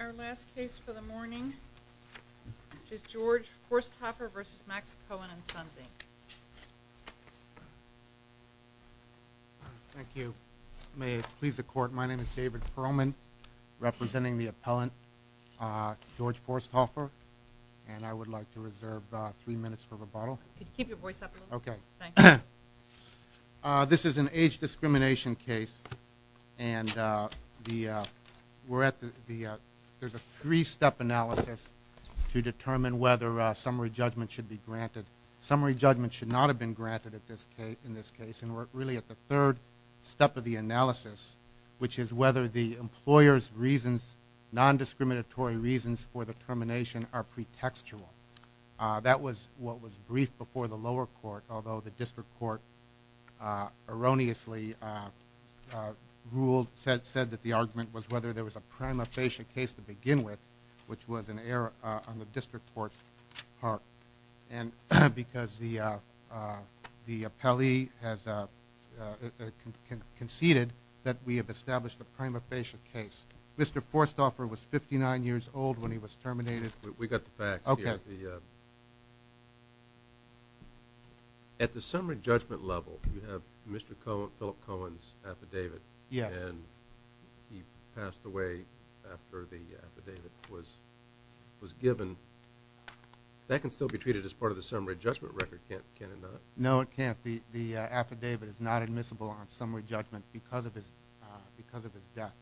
Our last case for the morning is George Forsthoffer vs. Max Cohen&Sons Thank you. May it please the court, my name is David Perlman, representing the appellant, George Forsthoffer, and I would like to reserve three minutes for rebuttal. Could you keep your voice up a little? Okay. Thank you. This is an age discrimination case, and we're at the, there's a three-step analysis to determine whether summary judgment should be granted. Summary judgment should not have been granted in this case, and we're really at the third step of the analysis, which is whether the employer's reasons, non-discriminatory reasons for the termination, are pretextual. That was what was briefed before the lower court, although the district court erroneously ruled, said that the argument was whether there was a prima facie case to begin with, which was an error on the district court's part. And because the appellee has conceded that we have established a prima facie case. Mr. Forsthoffer was 59 years old when he was terminated. We got the facts here. Okay. At the summary judgment level, you have Mr. Philip Cohen's affidavit. Yes. And he passed away after the affidavit was given. That can still be treated as part of the summary judgment record, can it not? No, it can't. The affidavit is not admissible on summary judgment because of his death.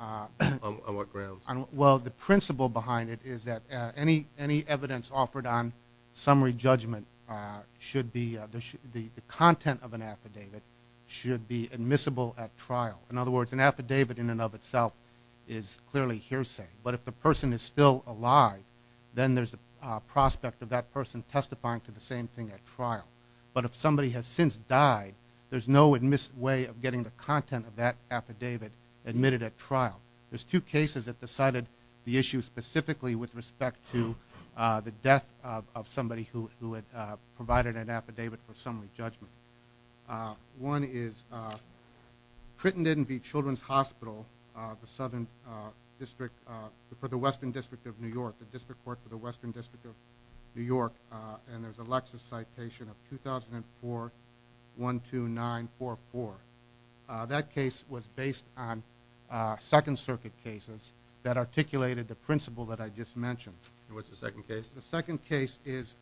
On what grounds? Well, the principle behind it is that any evidence offered on summary judgment should be the content of an affidavit should be admissible at trial. In other words, an affidavit in and of itself is clearly hearsay. But if the person is still alive, then there's a prospect of that person testifying to the same thing at trial. But if somebody has since died, there's no way of getting the content of that affidavit admitted at trial. There's two cases that decided the issue specifically with respect to the death of somebody who had provided an affidavit for summary judgment. One is Crittenden v. Children's Hospital for the Western District of New York, the District Court for the Western District of New York, and there's a Lexis citation of 2004-12944. That case was based on Second Circuit cases that articulated the principle that I just mentioned. And what's the second case? The second case is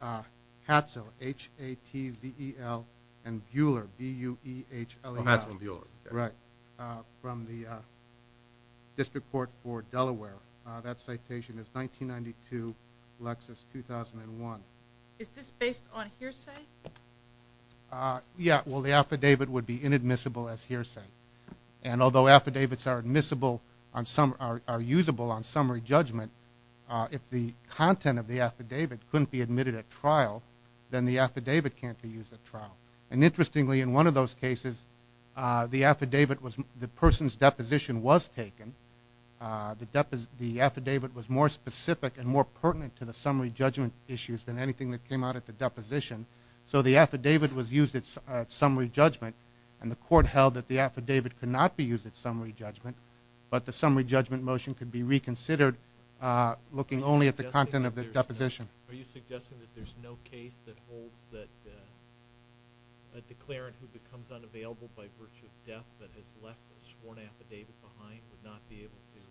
Hatzell, H-A-T-Z-E-L, and Buhler, B-U-H-E-L-L. Oh, Hatzell and Buhler. Right, from the District Court for Delaware. That citation is 1992, Lexis, 2001. Is this based on hearsay? Yeah. Well, the affidavit would be inadmissible as hearsay. And although affidavits are usable on summary judgment, if the content of the affidavit couldn't be admitted at trial, then the affidavit can't be used at trial. And interestingly, in one of those cases, the affidavit was the person's deposition was taken. The affidavit was more specific and more pertinent to the summary judgment issues than anything that came out at the deposition. So the affidavit was used at summary judgment, and the court held that the affidavit could not be used at summary judgment, but the summary judgment motion could be reconsidered looking only at the content of the deposition. Are you suggesting that there's no case that holds that a declarant who becomes unavailable by virtue of death but has left a sworn affidavit behind would not be able to get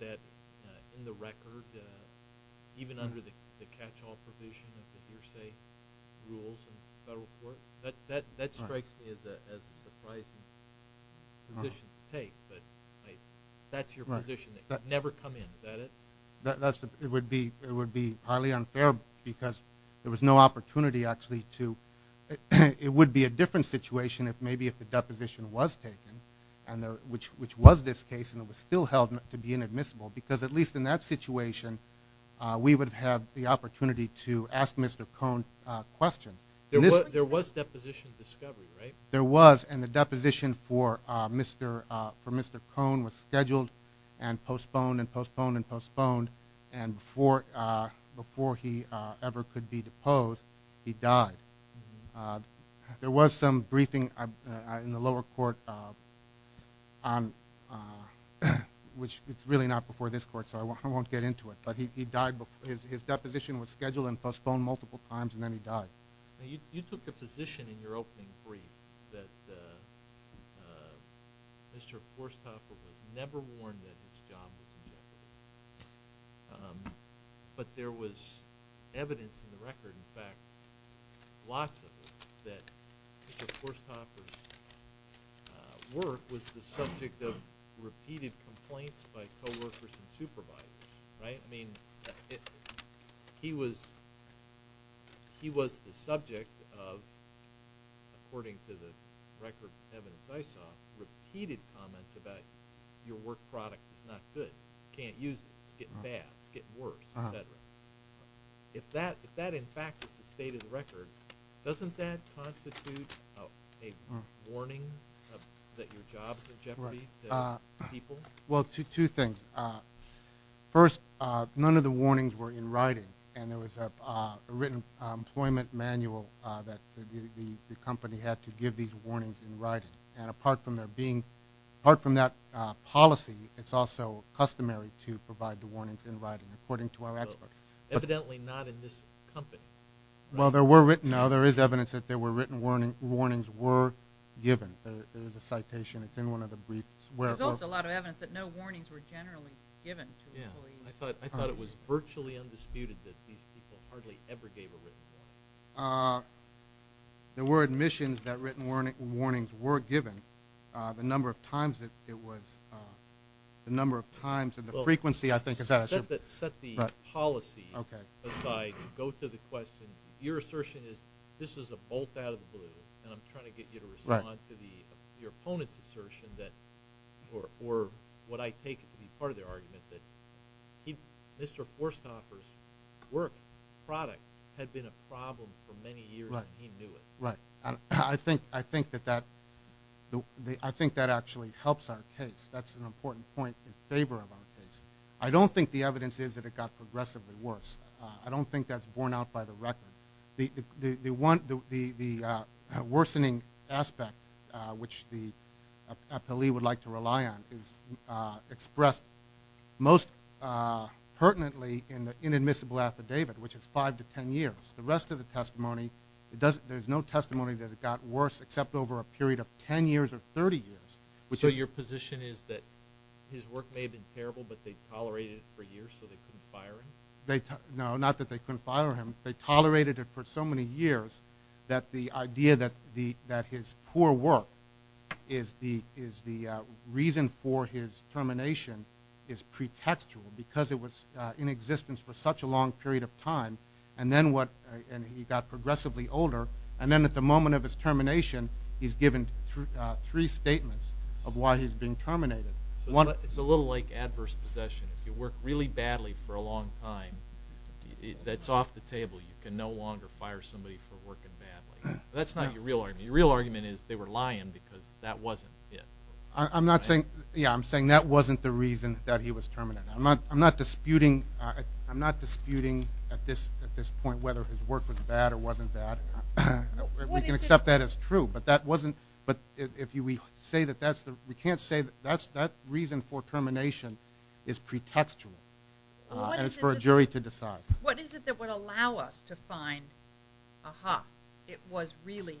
that in the record? Even under the catch-all provision of the hearsay rules in the federal court? That strikes me as a surprising position to take, but that's your position. It would never come in, is that it? It would be highly unfair because there was no opportunity actually to – it would be a different situation maybe if the deposition was taken, which was this case and it was still held to be inadmissible, because at least in that situation we would have had the opportunity to ask Mr. Cohn questions. There was deposition discovery, right? There was, and the deposition for Mr. Cohn was scheduled and postponed and postponed and postponed, and before he ever could be deposed, he died. There was some briefing in the lower court, which it's really not before this court so I won't get into it, but his deposition was scheduled and postponed multiple times and then he died. You took a position in your opening brief that Mr. Forsthoffer was never warned that his job was ejected, but there was evidence in the record, in fact, lots of it, that Mr. Forsthoffer's work was the subject of repeated complaints by coworkers and supervisors, right? I mean, he was the subject of, according to the record evidence I saw, repeated comments about your work product is not good, can't use it, it's getting bad, it's getting worse, et cetera. If that, in fact, is the state of the record, doesn't that constitute a warning that your job's in jeopardy to people? Well, two things. First, none of the warnings were in writing and there was a written employment manual that the company had to give these warnings in writing. And apart from that policy, it's also customary to provide the warnings in writing, according to our expert. Evidently not in this company. Well, there were written, no, there is evidence that there were written warnings were given. There's a citation, it's in one of the briefs. There's also a lot of evidence that no warnings were generally given to employees. I thought it was virtually undisputed that these people hardly ever gave a written warning. There were admissions that written warnings were given. The number of times that it was, the number of times and the frequency, I think. Set the policy aside and go to the question. Your assertion is this is a bolt out of the blue, and I'm trying to get you to respond to your opponent's assertion that, or what I take to be part of their argument, that Mr. Forsthoffer's work, product, had been a problem for many years and he knew it. Right. I think that actually helps our case. That's an important point in favor of our case. I don't think the evidence is that it got progressively worse. I don't think that's borne out by the record. The worsening aspect, which the appellee would like to rely on, is expressed most pertinently in the inadmissible affidavit, which is five to ten years. The rest of the testimony, there's no testimony that it got worse except over a period of ten years or 30 years. So your position is that his work may have been terrible, but they tolerated it for years so they couldn't fire him? No, not that they couldn't fire him. They tolerated it for so many years that the idea that his poor work is the reason for his termination is pretextual because it was in existence for such a long period of time, and he got progressively older, and then at the moment of his termination, he's given three statements of why he's being terminated. It's a little like adverse possession. If you work really badly for a long time, that's off the table. You can no longer fire somebody for working badly. That's not your real argument. Your real argument is they were lying because that wasn't it. I'm saying that wasn't the reason that he was terminated. I'm not disputing at this point whether his work was bad or wasn't bad. We can accept that as true, but we can't say that that reason for termination is pretextual and it's for a jury to decide. What is it that would allow us to find, aha, it was really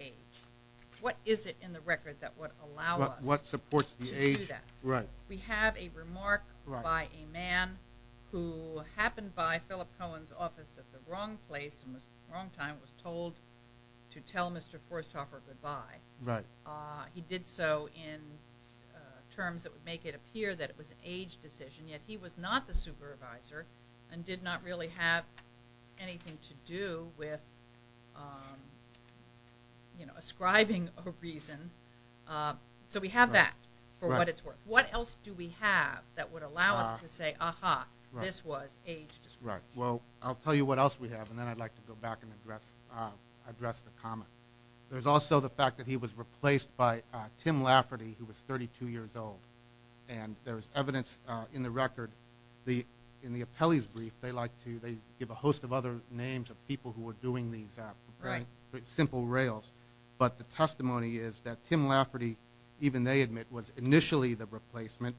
age? What is it in the record that would allow us to do that? We have a remark by a man who happened by Philip Cohen's office at the wrong place and at the wrong time was told to tell Mr. Forsthoffer goodbye. He did so in terms that would make it appear that it was an age decision, yet he was not the supervisor and did not really have anything to do with ascribing a reason. So we have that for what it's worth. What else do we have that would allow us to say, aha, this was age discrimination? Right, well, I'll tell you what else we have, and then I'd like to go back and address the comment. There's also the fact that he was replaced by Tim Lafferty, who was 32 years old, and there's evidence in the record, in the appellee's brief, they give a host of other names of people who were doing these simple rails, but the testimony is that Tim Lafferty, even they admit, was initially the replacement,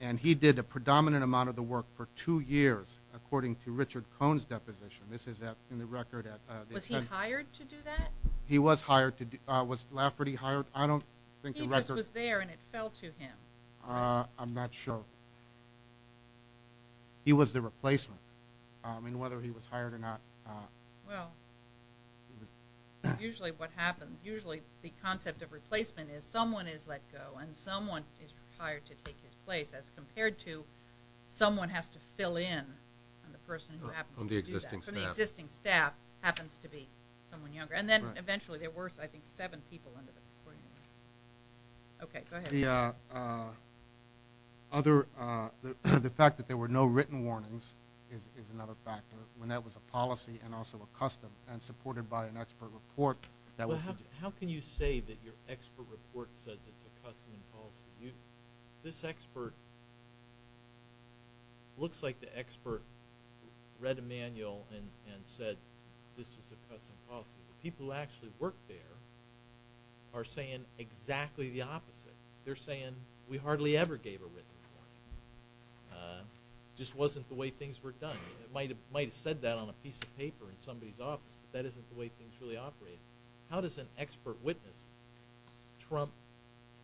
and he did a predominant amount of the work for two years, according to Richard Cohen's deposition. This is in the record. Was he hired to do that? He was hired. Was Lafferty hired? I don't think the record. He just was there and it fell to him. I'm not sure. He was the replacement. I mean, whether he was hired or not. Well, usually what happens, usually the concept of replacement is someone is let go and someone is hired to take his place as compared to someone has to fill in on the person who happens to do that. From the existing staff. From the existing staff happens to be someone younger. And then eventually there were, I think, seven people under the recording. Okay, go ahead. The fact that there were no written warnings is another factor, when that was a policy and also a custom and supported by an expert report. How can you say that your expert report says it's a custom and policy? This expert looks like the expert read a manual and said this is a custom policy. The people who actually worked there are saying exactly the opposite. They're saying we hardly ever gave a written warning. It just wasn't the way things were done. It might have said that on a piece of paper in somebody's office, but that isn't the way things really operate. How does an expert witness trump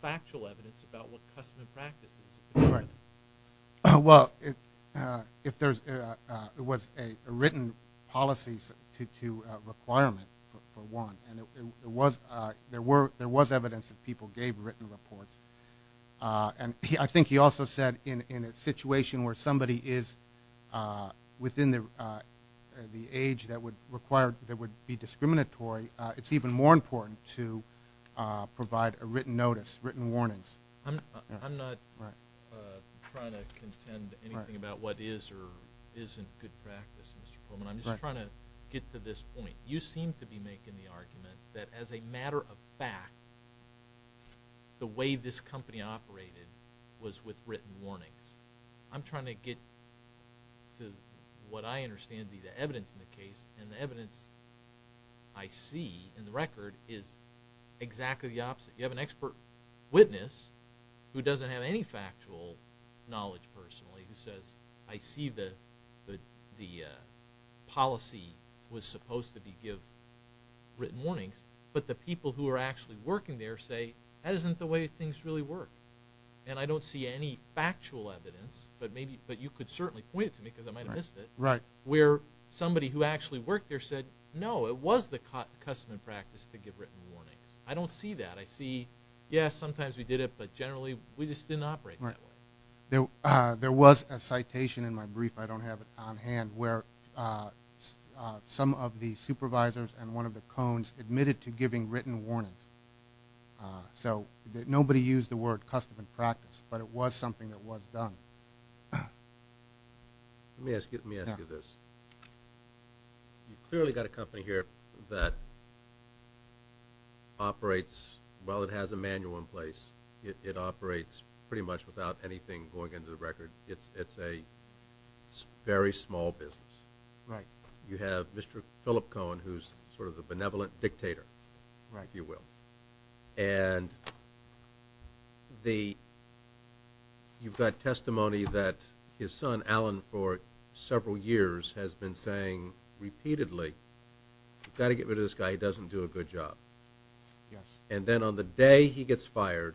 factual evidence about what custom and practice is? Right. Well, it was a written policy to requirement, for one, and there was evidence that people gave written reports. And I think he also said in a situation where somebody is within the age that would be discriminatory, it's even more important to provide a written notice, written warnings. I'm not trying to contend anything about what is or isn't good practice, Mr. Pullman. I'm just trying to get to this point. You seem to be making the argument that as a matter of fact, the way this company operated was with written warnings. I'm trying to get to what I understand to be the evidence in the case, and the evidence I see in the record is exactly the opposite. You have an expert witness who doesn't have any factual knowledge personally, who says, I see the policy was supposed to give written warnings, but the people who are actually working there say, that isn't the way things really work. And I don't see any factual evidence, but you could certainly point it to me because I might have missed it, where somebody who actually worked there said, no, it was the custom and practice to give written warnings. I don't see that. I see, yeah, sometimes we did it, but generally we just didn't operate that way. There was a citation in my brief, I don't have it on hand, where some of the supervisors and one of the cones admitted to giving written warnings. So nobody used the word custom and practice, but it was something that was done. Let me ask you this. You've clearly got a company here that operates, well, it has a manual in place. It operates pretty much without anything going into the record. It's a very small business. Right. You have Mr. Philip Cohen, who's sort of the benevolent dictator, if you will. Right. And you've got testimony that his son, Alan, for several years has been saying repeatedly, you've got to get rid of this guy, he doesn't do a good job. Yes. And then on the day he gets fired,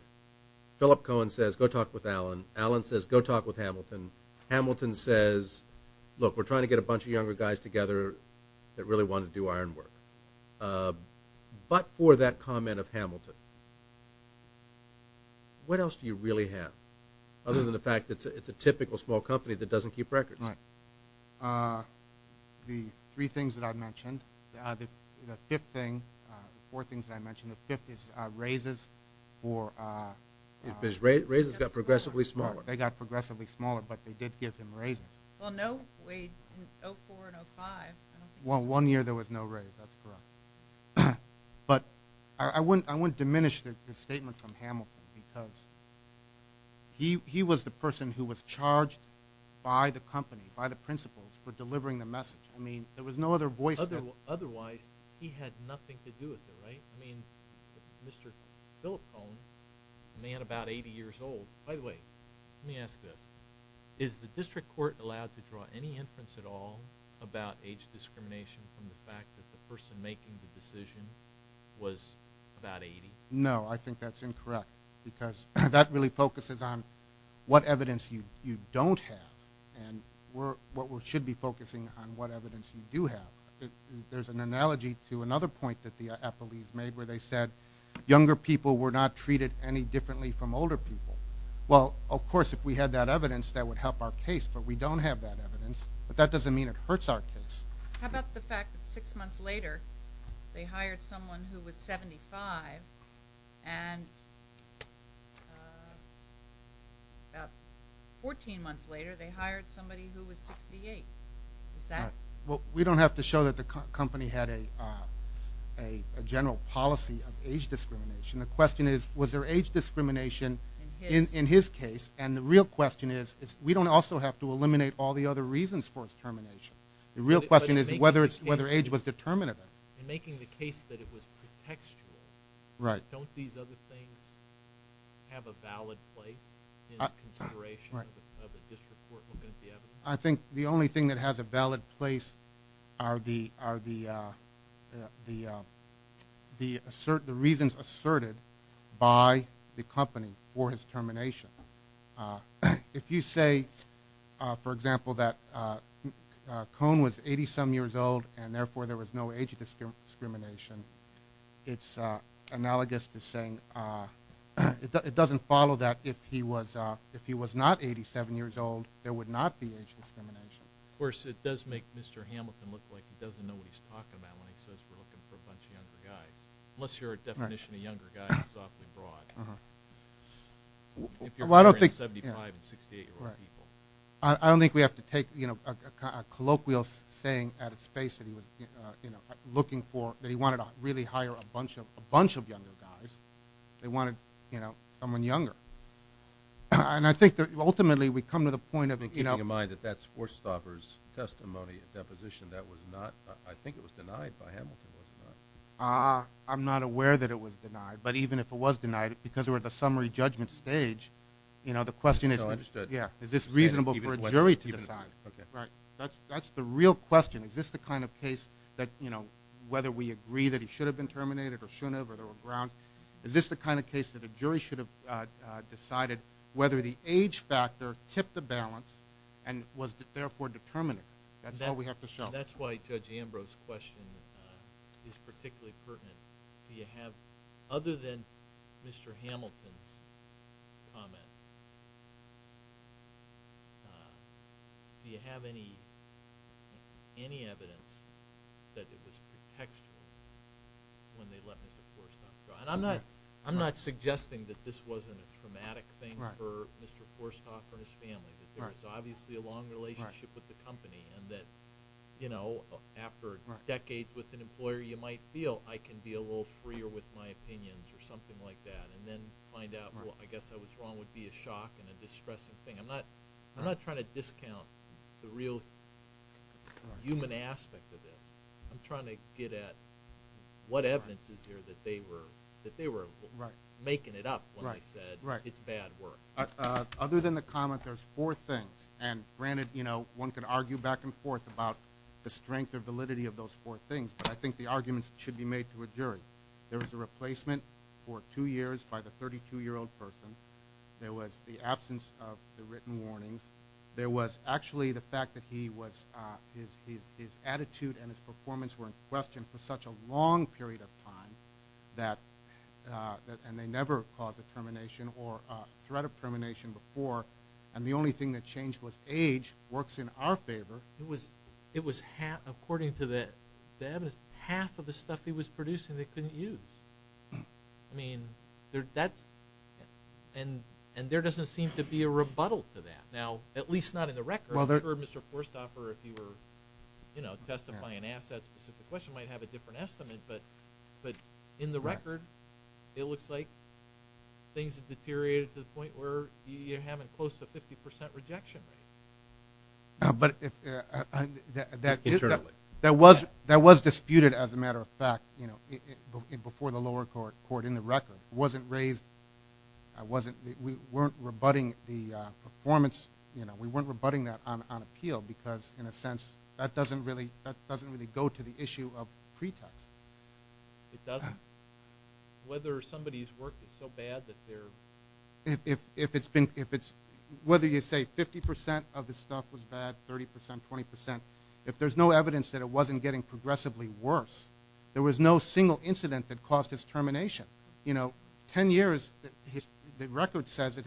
Philip Cohen says, go talk with Alan. Alan says, go talk with Hamilton. Hamilton says, look, we're trying to get a bunch of younger guys together that really want to do iron work. But for that comment of Hamilton, what else do you really have, other than the fact that it's a typical small company that doesn't keep records? Right. The three things that I mentioned, the fifth thing, four things that I mentioned, the fifth is raises for Mr. Cohen. Raises got progressively smaller. They got progressively smaller, but they did give him raises. Well, no wage in 2004 and 2005. Well, one year there was no raise. That's correct. But I wouldn't diminish the statement from Hamilton because he was the person who was charged by the company, by the principals for delivering the message. I mean, there was no other voice. Otherwise, he had nothing to do with it, right? I mean, Mr. Philip Cohen, a man about 80 years old. By the way, let me ask this. Is the district court allowed to draw any inference at all about age discrimination from the fact that the person making the decision was about 80? No, I think that's incorrect because that really focuses on what evidence you don't have and what we should be focusing on what evidence you do have. There's an analogy to another point that the appellees made where they said younger people were not treated any differently from older people. Well, of course, if we had that evidence, that would help our case, but we don't have that evidence, but that doesn't mean it hurts our case. How about the fact that six months later they hired someone who was 75 and about 14 months later they hired somebody who was 68? Is that? Well, we don't have to show that the company had a general policy of age discrimination. The question is was there age discrimination in his case, and the real question is we don't also have to eliminate all the other reasons for his termination. The real question is whether age was determined in it. In making the case that it was pretextual, don't these other things have a valid place in consideration of a district court looking at the evidence? I think the only thing that has a valid place are the reasons asserted by the company for his termination. If you say, for example, that Cone was 87 years old and therefore there was no age discrimination, it's analogous to saying it doesn't follow that if he was not 87 years old there would not be age discrimination. Of course, it does make Mr. Hamilton look like he doesn't know what he's talking about when he says we're looking for a bunch of younger guys, unless your definition of younger guys is awfully broad. If you're referring to 75- and 68-year-old people. I don't think we have to take a colloquial saying at its face that he wanted to really hire a bunch of younger guys. They wanted someone younger. And I think that ultimately we come to the point of – Keeping in mind that that's Forsthoffer's testimony at deposition. That was not – I think it was denied by Hamilton, was it not? I'm not aware that it was denied, but even if it was denied because we're at the summary judgment stage, the question is is this reasonable for a jury to decide? That's the real question. Is this the kind of case that whether we agree that he should have been terminated or shouldn't have or there were grounds. Is this the kind of case that a jury should have decided whether the age factor tipped the balance and was therefore determinate? That's all we have to show. That's why Judge Ambrose's question is particularly pertinent. Do you have, other than Mr. Hamilton's comment, do you have any evidence that it was pretextual when they let Mr. Forsthoffer go? And I'm not suggesting that this wasn't a traumatic thing for Mr. Forsthoffer and his family, that there was obviously a long relationship with the company and that after decades with an employer, you might feel I can be a little freer with my opinions or something like that and then find out, well, I guess I was wrong, would be a shock and a distressing thing. I'm not trying to discount the real human aspect of this. I'm trying to get at what evidence is there that they were making it up when they said it's bad work. Other than the comment, there's four things. And granted, you know, one could argue back and forth about the strength or validity of those four things, but I think the arguments should be made to a jury. There was a replacement for two years by the 32-year-old person. There was the absence of the written warnings. There was actually the fact that his attitude and his performance were in question for such a long period of time and they never caused a termination or threat of termination before, and the only thing that changed was age works in our favor. It was half, according to the evidence, half of the stuff he was producing they couldn't use. I mean, that's – and there doesn't seem to be a rebuttal to that. Now, at least not in the record. I'm sure Mr. Forstaffer, if you were, you know, testifying and asked that specific question, might have a different estimate, but in the record, it looks like things have deteriorated to the point where you're having close to a 50% rejection rate. But that was disputed, as a matter of fact, you know, before the lower court in the record. It wasn't raised – we weren't rebutting the performance, you know, we weren't rebutting that on appeal because, in a sense, that doesn't really go to the issue of pretext. It doesn't. Whether somebody's work is so bad that they're – If it's been – whether you say 50% of his stuff was bad, 30%, 20%, if there's no evidence that it wasn't getting progressively worse, there was no single incident that caused his termination. You know, 10 years – the record says it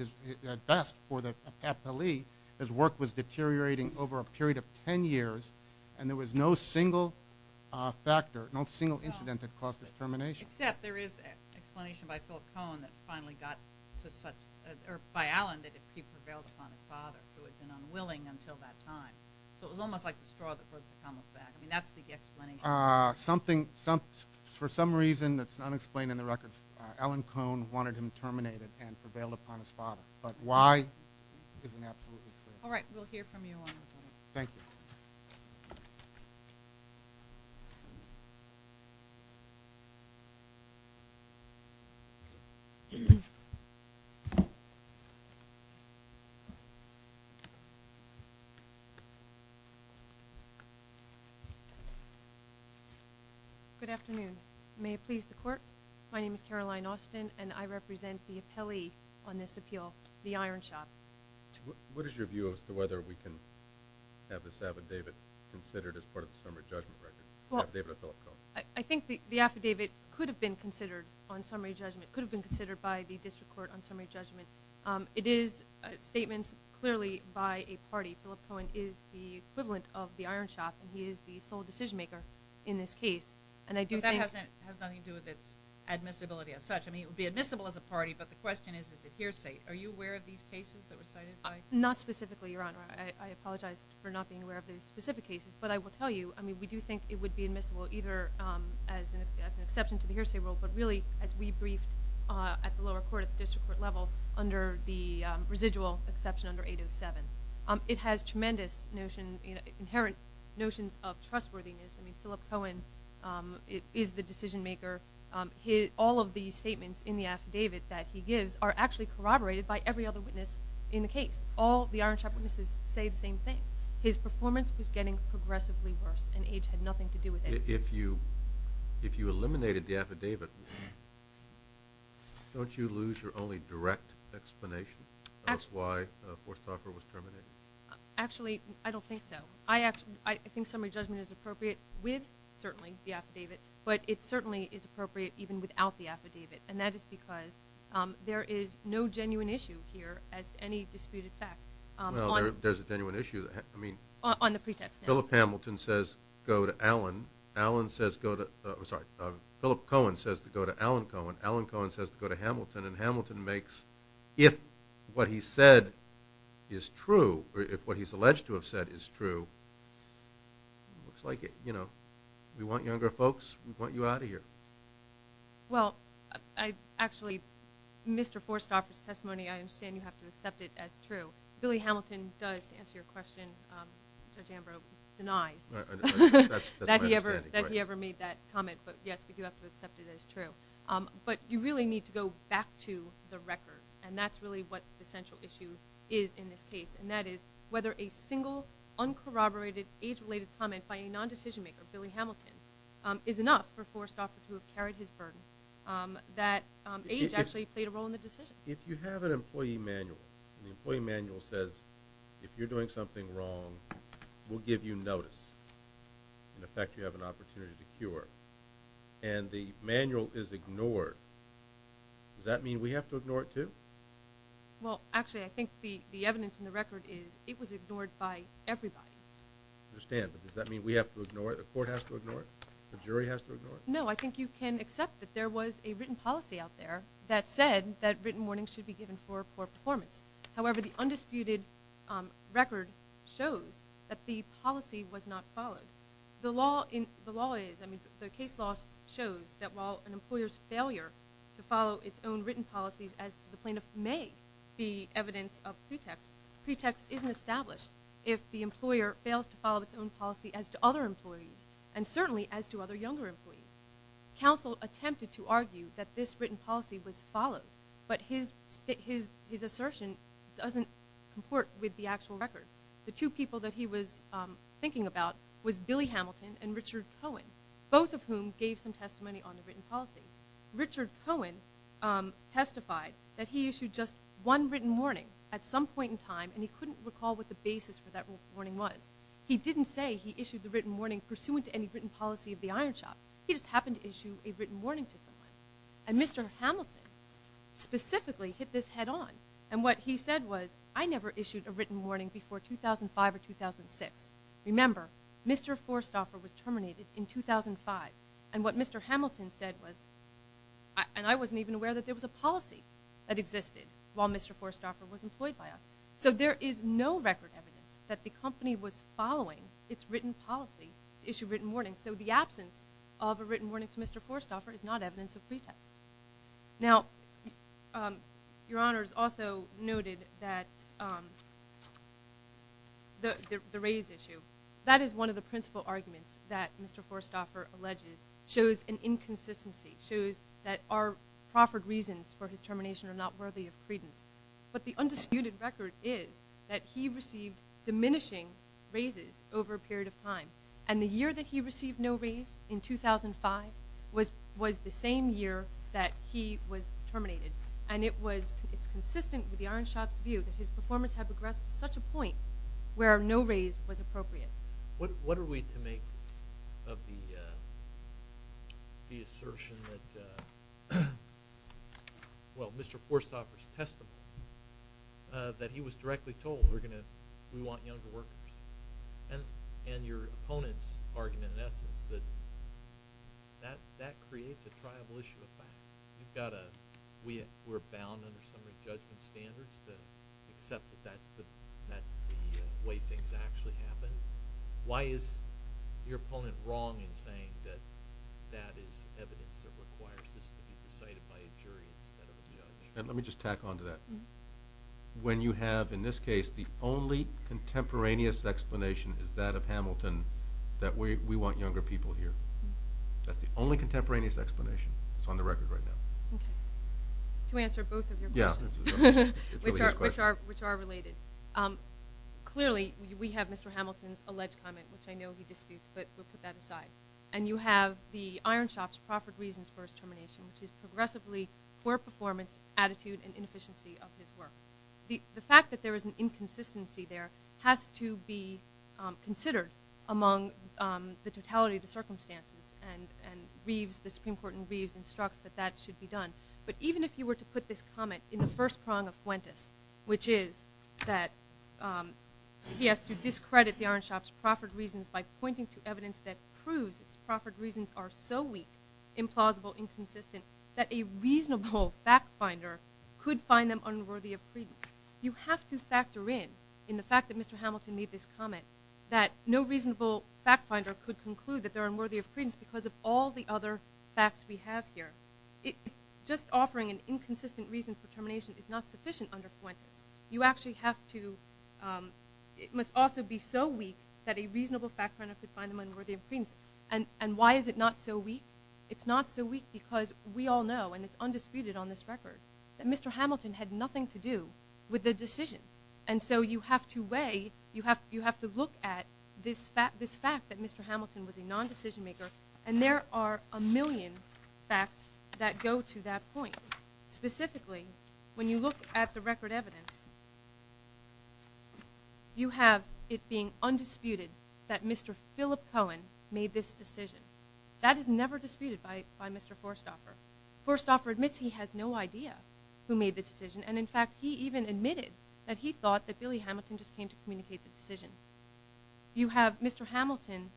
best for the appellee, his work was deteriorating over a period of 10 years, and there was no single factor, no single incident that caused his termination. Except there is an explanation by Philip Cohn that finally got to such – or by Allen that he prevailed upon his father, who had been unwilling until that time. So it was almost like the straw that broke the camel's back. I mean, that's the explanation. Something – for some reason that's unexplained in the record, Allen Cohn wanted him terminated and prevailed upon his father. But why isn't absolutely clear. All right, we'll hear from you on that one. Thank you. Good afternoon. May it please the Court, my name is Caroline Austin, and I represent the appellee on this appeal, the iron shop. What is your view as to whether we can have this affidavit considered as part of the summary judgment record, affidavit of Philip Cohn? I think the affidavit could have been considered on summary judgment, could have been considered by the district court on summary judgment. It is statements clearly by a party. Philip Cohn is the equivalent of the iron shop, and he is the sole decision maker in this case, and I do think – But that has nothing to do with its admissibility as such. I mean, it would be admissible as a party, but the question is, is it hearsay? Are you aware of these cases that were cited by – Not specifically, Your Honor. I apologize for not being aware of the specific cases. But I will tell you, I mean, we do think it would be admissible, either as an exception to the hearsay rule, but really as we briefed at the lower court, at the district court level, under the residual exception under 807. It has tremendous inherent notions of trustworthiness. I mean, Philip Cohn is the decision maker. All of the statements in the affidavit that he gives are actually corroborated by every other witness in the case. All the iron shop witnesses say the same thing. His performance was getting progressively worse, and age had nothing to do with it. If you eliminated the affidavit, don't you lose your only direct explanation as to why Forsthoffer was terminated? Actually, I don't think so. I think summary judgment is appropriate with, certainly, the affidavit, but it certainly is appropriate even without the affidavit, and that is because there is no genuine issue here as to any disputed fact. Well, there's a genuine issue. I mean, Philip Hamilton says go to Allen. Allen says go to, I'm sorry, Philip Cohn says to go to Allen Cohn. Allen Cohn says to go to Hamilton, and Hamilton makes, if what he said is true, or if what he's alleged to have said is true, it looks like we want younger folks, we want you out of here. Well, actually, Mr. Forsthoffer's testimony, I understand you have to accept it as true. Billy Hamilton does, to answer your question, Judge Ambrose denies that he ever made that comment, but yes, we do have to accept it as true. But you really need to go back to the record, and that's really what the central issue is in this case, and that is whether a single, uncorroborated, age-related comment by a nondecision maker, Billy Hamilton, is enough for Forsthoffer to have carried his burden, that age actually played a role in the decision. If you have an employee manual, and the employee manual says, if you're doing something wrong, we'll give you notice, in effect you have an opportunity to cure, and the manual is ignored, does that mean we have to ignore it too? Well, actually, I think the evidence in the record is it was ignored by everybody. I understand, but does that mean we have to ignore it, the court has to ignore it, the jury has to ignore it? No, I think you can accept that there was a written policy out there that said that written warnings should be given for poor performance. However, the undisputed record shows that the policy was not followed. The law is, I mean, the case law shows that while an employer's failure to follow its own written policies as to the plaintiff may be evidence of pretext, pretext isn't established if the employer fails to follow its own policy as to other employees, and certainly as to other younger employees. Counsel attempted to argue that this written policy was followed, but his assertion doesn't comport with the actual record. The two people that he was thinking about was Billy Hamilton and Richard Cohen, both of whom gave some testimony on the written policy. Richard Cohen testified that he issued just one written warning at some point in time, and he couldn't recall what the basis for that written warning was. He didn't say he issued the written warning pursuant to any written policy of the iron shop. He just happened to issue a written warning to someone, and Mr. Hamilton specifically hit this head on, and what he said was, I never issued a written warning before 2005 or 2006. Remember, Mr. Forsthoffer was terminated in 2005, and what Mr. Hamilton said was, and I wasn't even aware that there was a policy that existed while Mr. Forsthoffer was employed by us. So there is no record evidence that the company was following its written policy to issue written warnings, so the absence of a written warning to Mr. Forsthoffer is not evidence of pretext. Now, Your Honors also noted that the raise issue, that is one of the principal arguments that Mr. Forsthoffer alleges shows an inconsistency, shows that our proffered reasons for his termination are not worthy of credence, but the undisputed record is that he received diminishing raises over a period of time, and the year that he received no raise in 2005 was the same year that he was terminated, and it's consistent with the iron shop's view that his performance had progressed to such a point where no raise was appropriate. What are we to make of the assertion that, well, Mr. Forsthoffer's testimony, that he was directly told we want younger workers, and your opponent's argument in essence that that creates a triable issue of fact. We're bound under some of the judgment standards to accept that that's the way things actually happen. Why is your opponent wrong in saying that that is evidence that requires this to be decided by a jury instead of a judge? Let me just tack on to that. When you have, in this case, the only contemporaneous explanation is that of Hamilton, that we want younger people here. That's the only contemporaneous explanation that's on the record right now. To answer both of your questions, which are related, clearly we have Mr. Hamilton's alleged comment, which I know he disputes, but we'll put that aside, and you have the iron shop's proffered reasons for his termination, which is progressively poor performance, attitude, and inefficiency of his work. The fact that there is an inconsistency there has to be considered among the totality of the circumstances, and the Supreme Court in Reeves instructs that that should be done. But even if you were to put this comment in the first prong of Fuentes, which is that he has to discredit the iron shop's proffered reasons by pointing to evidence that proves its proffered reasons are so weak, implausible, inconsistent, that a reasonable fact finder could find them unworthy of credence. You have to factor in, in the fact that Mr. Hamilton made this comment, that no reasonable fact finder could conclude that they're unworthy of credence because of all the other facts we have here. Just offering an inconsistent reason for termination is not sufficient under Fuentes. You actually have to, it must also be so weak that a reasonable fact finder could find them unworthy of credence. And why is it not so weak? It's not so weak because we all know, and it's undisputed on this record, that Mr. Hamilton had nothing to do with the decision. And so you have to weigh, you have to look at this fact that Mr. Hamilton was a non-decision maker, and there are a million facts that go to that point. Specifically, when you look at the record evidence, you have it being undisputed that Mr. Philip Cohen made this decision. That is never disputed by Mr. Forsthoffer. Forsthoffer admits he has no idea who made the decision, and in fact he even admitted that he thought that Billy Hamilton just came to communicate the decision. You have Mr. Hamilton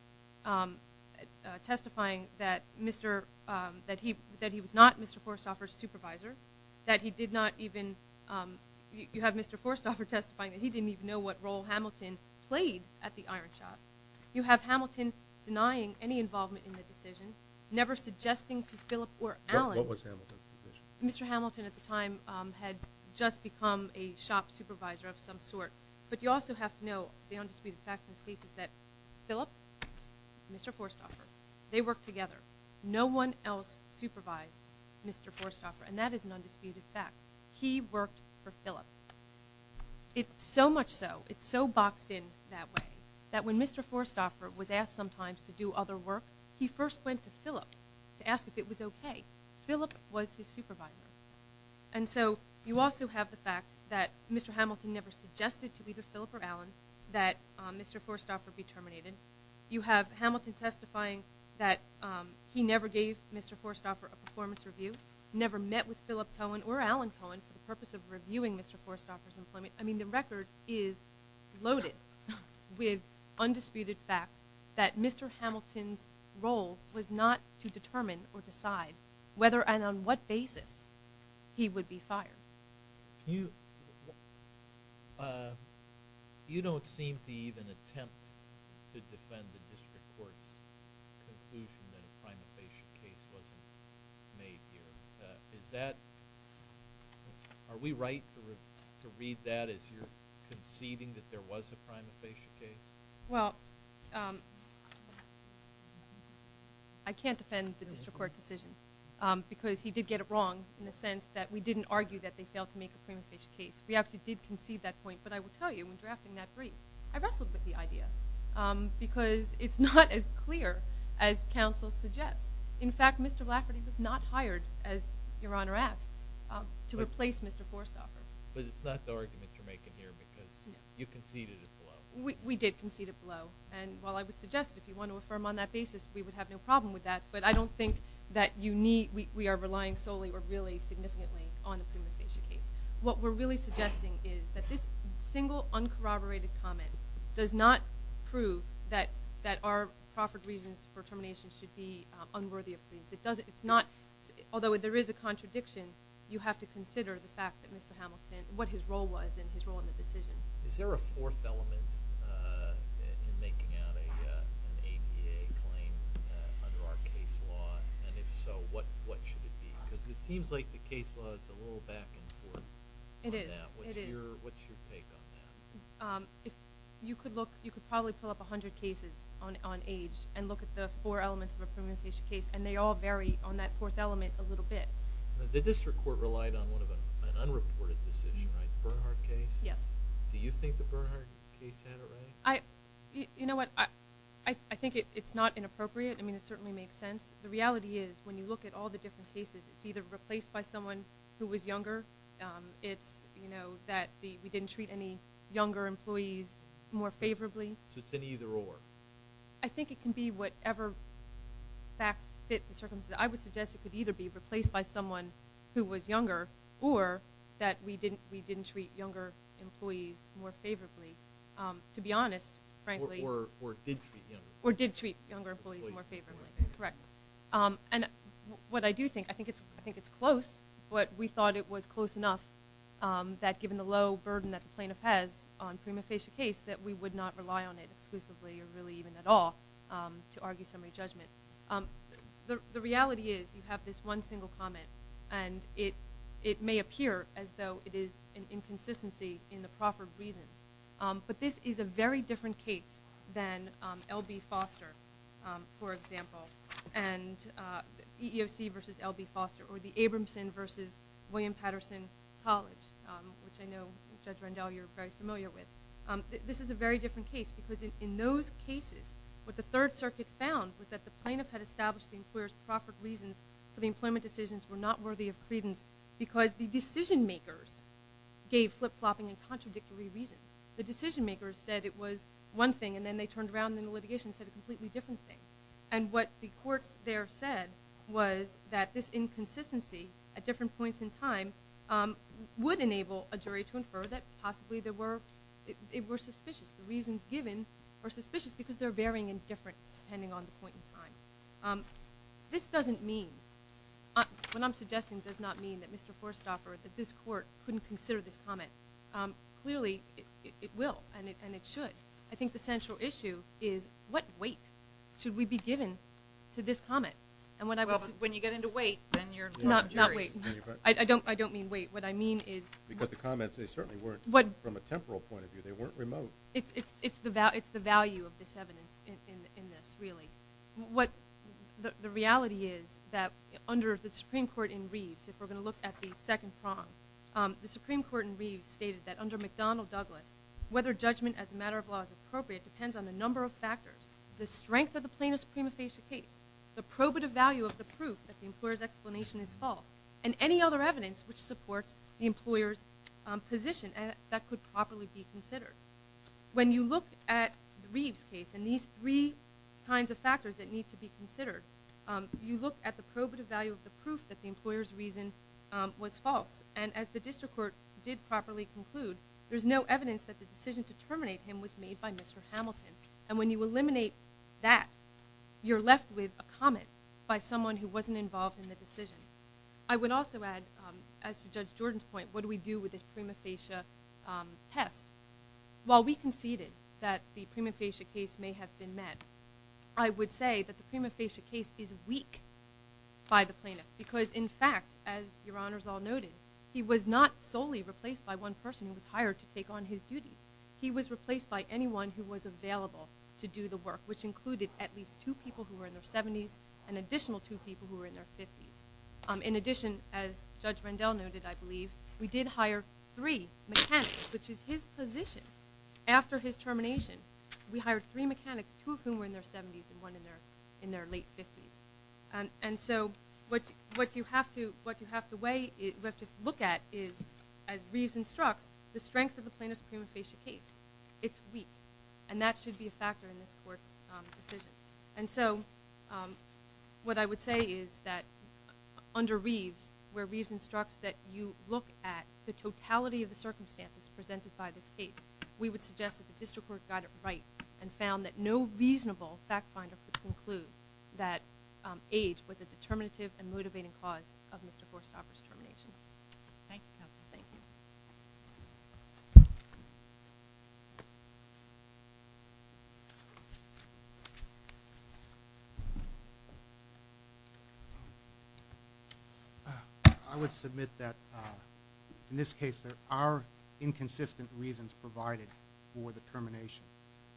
testifying that he was not Mr. Forsthoffer's supervisor, that he did not even, you have Mr. Forsthoffer testifying that he didn't even know what role Hamilton played at the iron shop. You have Hamilton denying any involvement in the decision, never suggesting to Philip or Alan. What was Hamilton's decision? Mr. Hamilton at the time had just become a shop supervisor of some sort. But you also have to know the undisputed fact in this case is that Philip and Mr. Forsthoffer, they worked together. No one else supervised Mr. Forsthoffer, and that is an undisputed fact. He worked for Philip. It's so much so, it's so boxed in that way, that when Mr. Forsthoffer was asked sometimes to do other work, he first went to Philip to ask if it was okay. Philip was his supervisor. And so you also have the fact that Mr. Hamilton never suggested to either Philip or Alan that Mr. Forsthoffer be terminated. You have Hamilton testifying that he never gave Mr. Forsthoffer a performance review, never met with Philip Cohen or Alan Cohen for the purpose of reviewing Mr. Forsthoffer's employment. I mean, the record is loaded with undisputed facts that Mr. Hamilton's role was not to determine or decide whether and on what basis he would be fired. You don't seem to even attempt to defend the district court's conclusion that a crime of patient case wasn't made here. Is that – are we right to read that as you're conceding that there was a crime of patient case? Well, I can't defend the district court decision because he did get it wrong in the sense that we didn't argue that they failed to make a crime of patient case. We actually did concede that point. But I will tell you, when drafting that brief, I wrestled with the idea because it's not as clear as counsel suggests. In fact, Mr. Lafferty was not hired, as Your Honor asked, to replace Mr. Forsthoffer. But it's not the argument you're making here because you conceded it below. We did concede it below. And while I would suggest if you want to affirm on that basis, we would have no problem with that, but I don't think that you need – we are relying solely or really significantly on the crime of patient case. What we're really suggesting is that this single, uncorroborated comment does not prove that our proffered reasons for termination should be unworthy of please. It's not – although there is a contradiction, you have to consider the fact that Mr. Hamilton – what his role was and his role in the decision. Is there a fourth element in making out an ADA claim under our case law? And if so, what should it be? Because it seems like the case law is a little back and forth on that. It is. It is. What's your take on that? You could look – you could probably pull up 100 cases on age and look at the four elements of a proven patient case, and they all vary on that fourth element a little bit. The district court relied on one of an unreported decision, right? Bernhardt case? Yes. Do you think the Bernhardt case had it right? You know what? I think it's not inappropriate. I mean, it certainly makes sense. The reality is when you look at all the different cases, it's either replaced by someone who was younger. It's, you know, that we didn't treat any younger employees more favorably. So it's an either-or? I think it can be whatever facts fit the circumstances. I would suggest it could either be replaced by someone who was younger or that we didn't treat younger employees more favorably, to be honest, frankly. Or did treat younger. Or did treat younger employees more favorably. Correct. And what I do think, I think it's close, but we thought it was close enough that given the low burden that the plaintiff has on prima facie case that we would not rely on it exclusively or really even at all to argue summary judgment. The reality is you have this one single comment, and it may appear as though it is an inconsistency in the proffered reasons. But this is a very different case than L.B. Foster, for example, and EEOC versus L.B. Foster or the Abramson versus William Patterson College, which I know, Judge Rendell, you're very familiar with. This is a very different case because in those cases, what the Third Circuit found was that the plaintiff had established the employer's proffered reasons for the employment decisions were not worthy of credence because the decision-makers gave flip-flopping and contradictory reasons. The decision-makers said it was one thing, and then they turned around in the litigation and said a completely different thing. And what the courts there said was that this inconsistency at different points in time would enable a jury to infer that possibly it were suspicious. The reasons given are suspicious because they're varying and different depending on the point in time. This doesn't mean, what I'm suggesting does not mean that Mr. Forstaffer, that this court couldn't consider this comment. Clearly, it will, and it should. I think the central issue is what weight should we be given to this comment? Well, when you get into weight, then you're not a jury. Not weight. I don't mean weight. What I mean is... Because the comments, they certainly weren't from a temporal point of view. They weren't remote. It's the value of this evidence in this, really. The reality is that under the Supreme Court in Reeves, if we're going to look at the second prong, the Supreme Court in Reeves stated that under McDonnell Douglas, whether judgment as a matter of law is appropriate depends on a number of factors. The strength of the plaintiff's prima facie case, the probative value of the proof that the employer's explanation is false, and any other evidence which supports the employer's position. That could properly be considered. When you look at Reeves' case, and these three kinds of factors that need to be considered, you look at the probative value of the proof that the employer's reason was false. And as the district court did properly conclude, there's no evidence that the decision to terminate him was made by Mr. Hamilton. And when you eliminate that, you're left with a comment by someone who wasn't involved in the decision. I would also add, as to Judge Jordan's point, what do we do with this prima facie test? While we conceded that the prima facie case may have been met, I would say that the prima facie case is weak by the plaintiff, because in fact, as Your Honors all noted, he was not solely replaced by one person who was hired to take on his duties. He was replaced by anyone who was available to do the work, which included at least two people who were in their 70s and additional two people who were in their 50s. In addition, as Judge Rendell noted, I believe, we did hire three mechanics, which is his position. After his termination, we hired three mechanics, two of whom were in their 70s and one in their late 50s. And so what you have to look at is, as Reeves instructs, the strength of the plaintiff's prima facie case. It's weak, and that should be a factor in this court's decision. And so what I would say is that under Reeves, where Reeves instructs that you look at the totality of the circumstances presented by this case, we would suggest that the district court got it right and found that no reasonable fact finder could conclude that age was a determinative and motivating cause of Mr. Horsthoffer's termination. Thank you, counsel. Thank you. I would submit that in this case there are inconsistent reasons provided for the termination.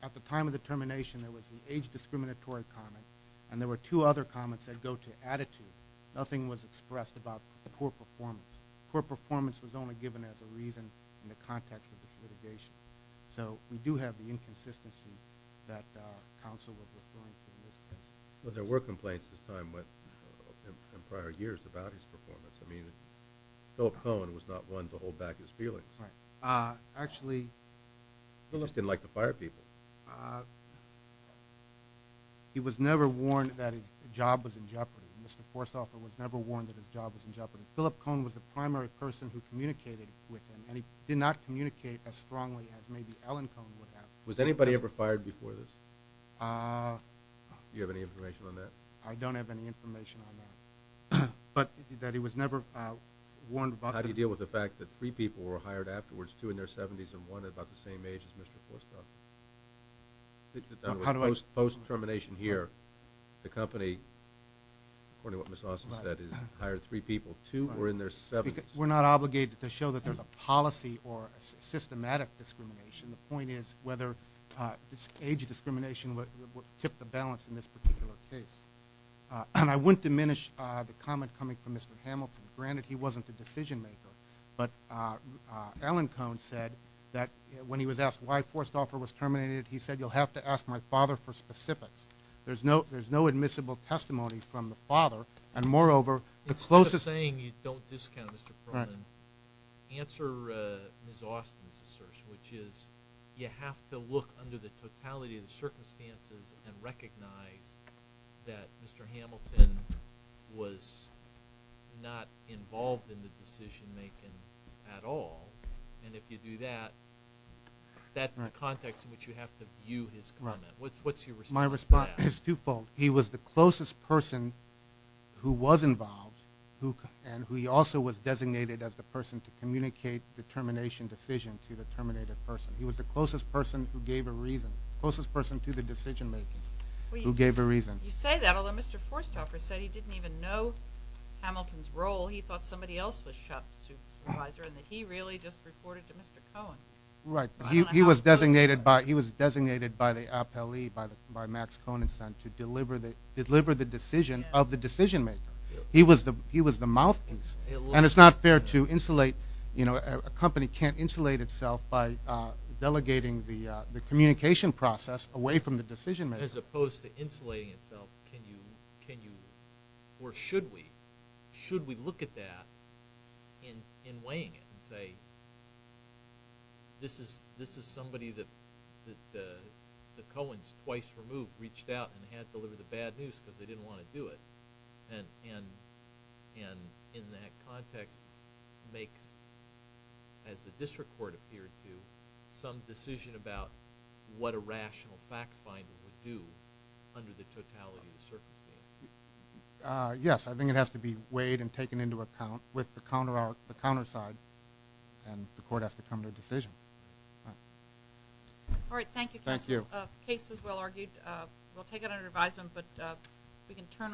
At the time of the termination, there was an age-discriminatory comment, and there were two other comments that go to attitude. Nothing was expressed about poor performance. Poor performance was only given as a reason in the context of this litigation. So we do have the inconsistency that counsel was referring to in this case. But there were complaints at this time and prior years about his performance. I mean, Philip Cohen was not one to hold back his feelings. Right. Actually... He just didn't like to fire people. He was never warned that his job was in jeopardy. Mr. Horsthoffer was never warned that his job was in jeopardy. Philip Cohen was the primary person who communicated with him, and he did not communicate as strongly as maybe Ellen Cohen would have. Was anybody ever fired before this? Do you have any information on that? I don't have any information on that. But that he was never warned about... How do you deal with the fact that three people were hired afterwards, two in their 70s and one about the same age as Mr. Horsthoffer? How do I... According to what Ms. Austin said is hire three people, two were in their 70s. We're not obligated to show that there's a policy or a systematic discrimination. The point is whether age discrimination would tip the balance in this particular case. And I wouldn't diminish the comment coming from Mr. Hamilton. Granted, he wasn't the decision-maker. But Ellen Cohen said that when he was asked why Horsthoffer was terminated, he said, you'll have to ask my father for specifics. There's no admissible testimony from the father. And moreover, the closest... Instead of saying you don't discount Mr. Cronin, answer Ms. Austin's assertion, which is you have to look under the totality of the circumstances and recognize that Mr. Hamilton was not involved in the decision-making at all. And if you do that, that's the context in which you have to view his comment. What's your response to that? My response is twofold. He was the closest person who was involved and who also was designated as the person to communicate the termination decision to the terminated person. He was the closest person who gave a reason, closest person to the decision-making, who gave a reason. You say that, although Mr. Horsthoffer said he didn't even know Hamilton's role. He thought somebody else was shop supervisor and that he really just reported to Mr. Cohen. Right. He was designated by the appellee, by Max Coniston, to deliver the decision of the decision-maker. He was the mouthpiece. And it's not fair to insulate. A company can't insulate itself by delegating the communication process away from the decision-maker. As opposed to insulating itself, can you or should we? Can we look at that in weighing it and say, this is somebody that the Coens twice removed reached out and had to deliver the bad news because they didn't want to do it. And in that context makes, as the district court appeared to, some decision about what a rational fact finder would do under the totality of the circumstances. Yes, I think it has to be weighed and taken into account with the counter side. And the court has to come to a decision. All right. Thank you. Case is well argued. We'll take it under advisement, but we can turn off.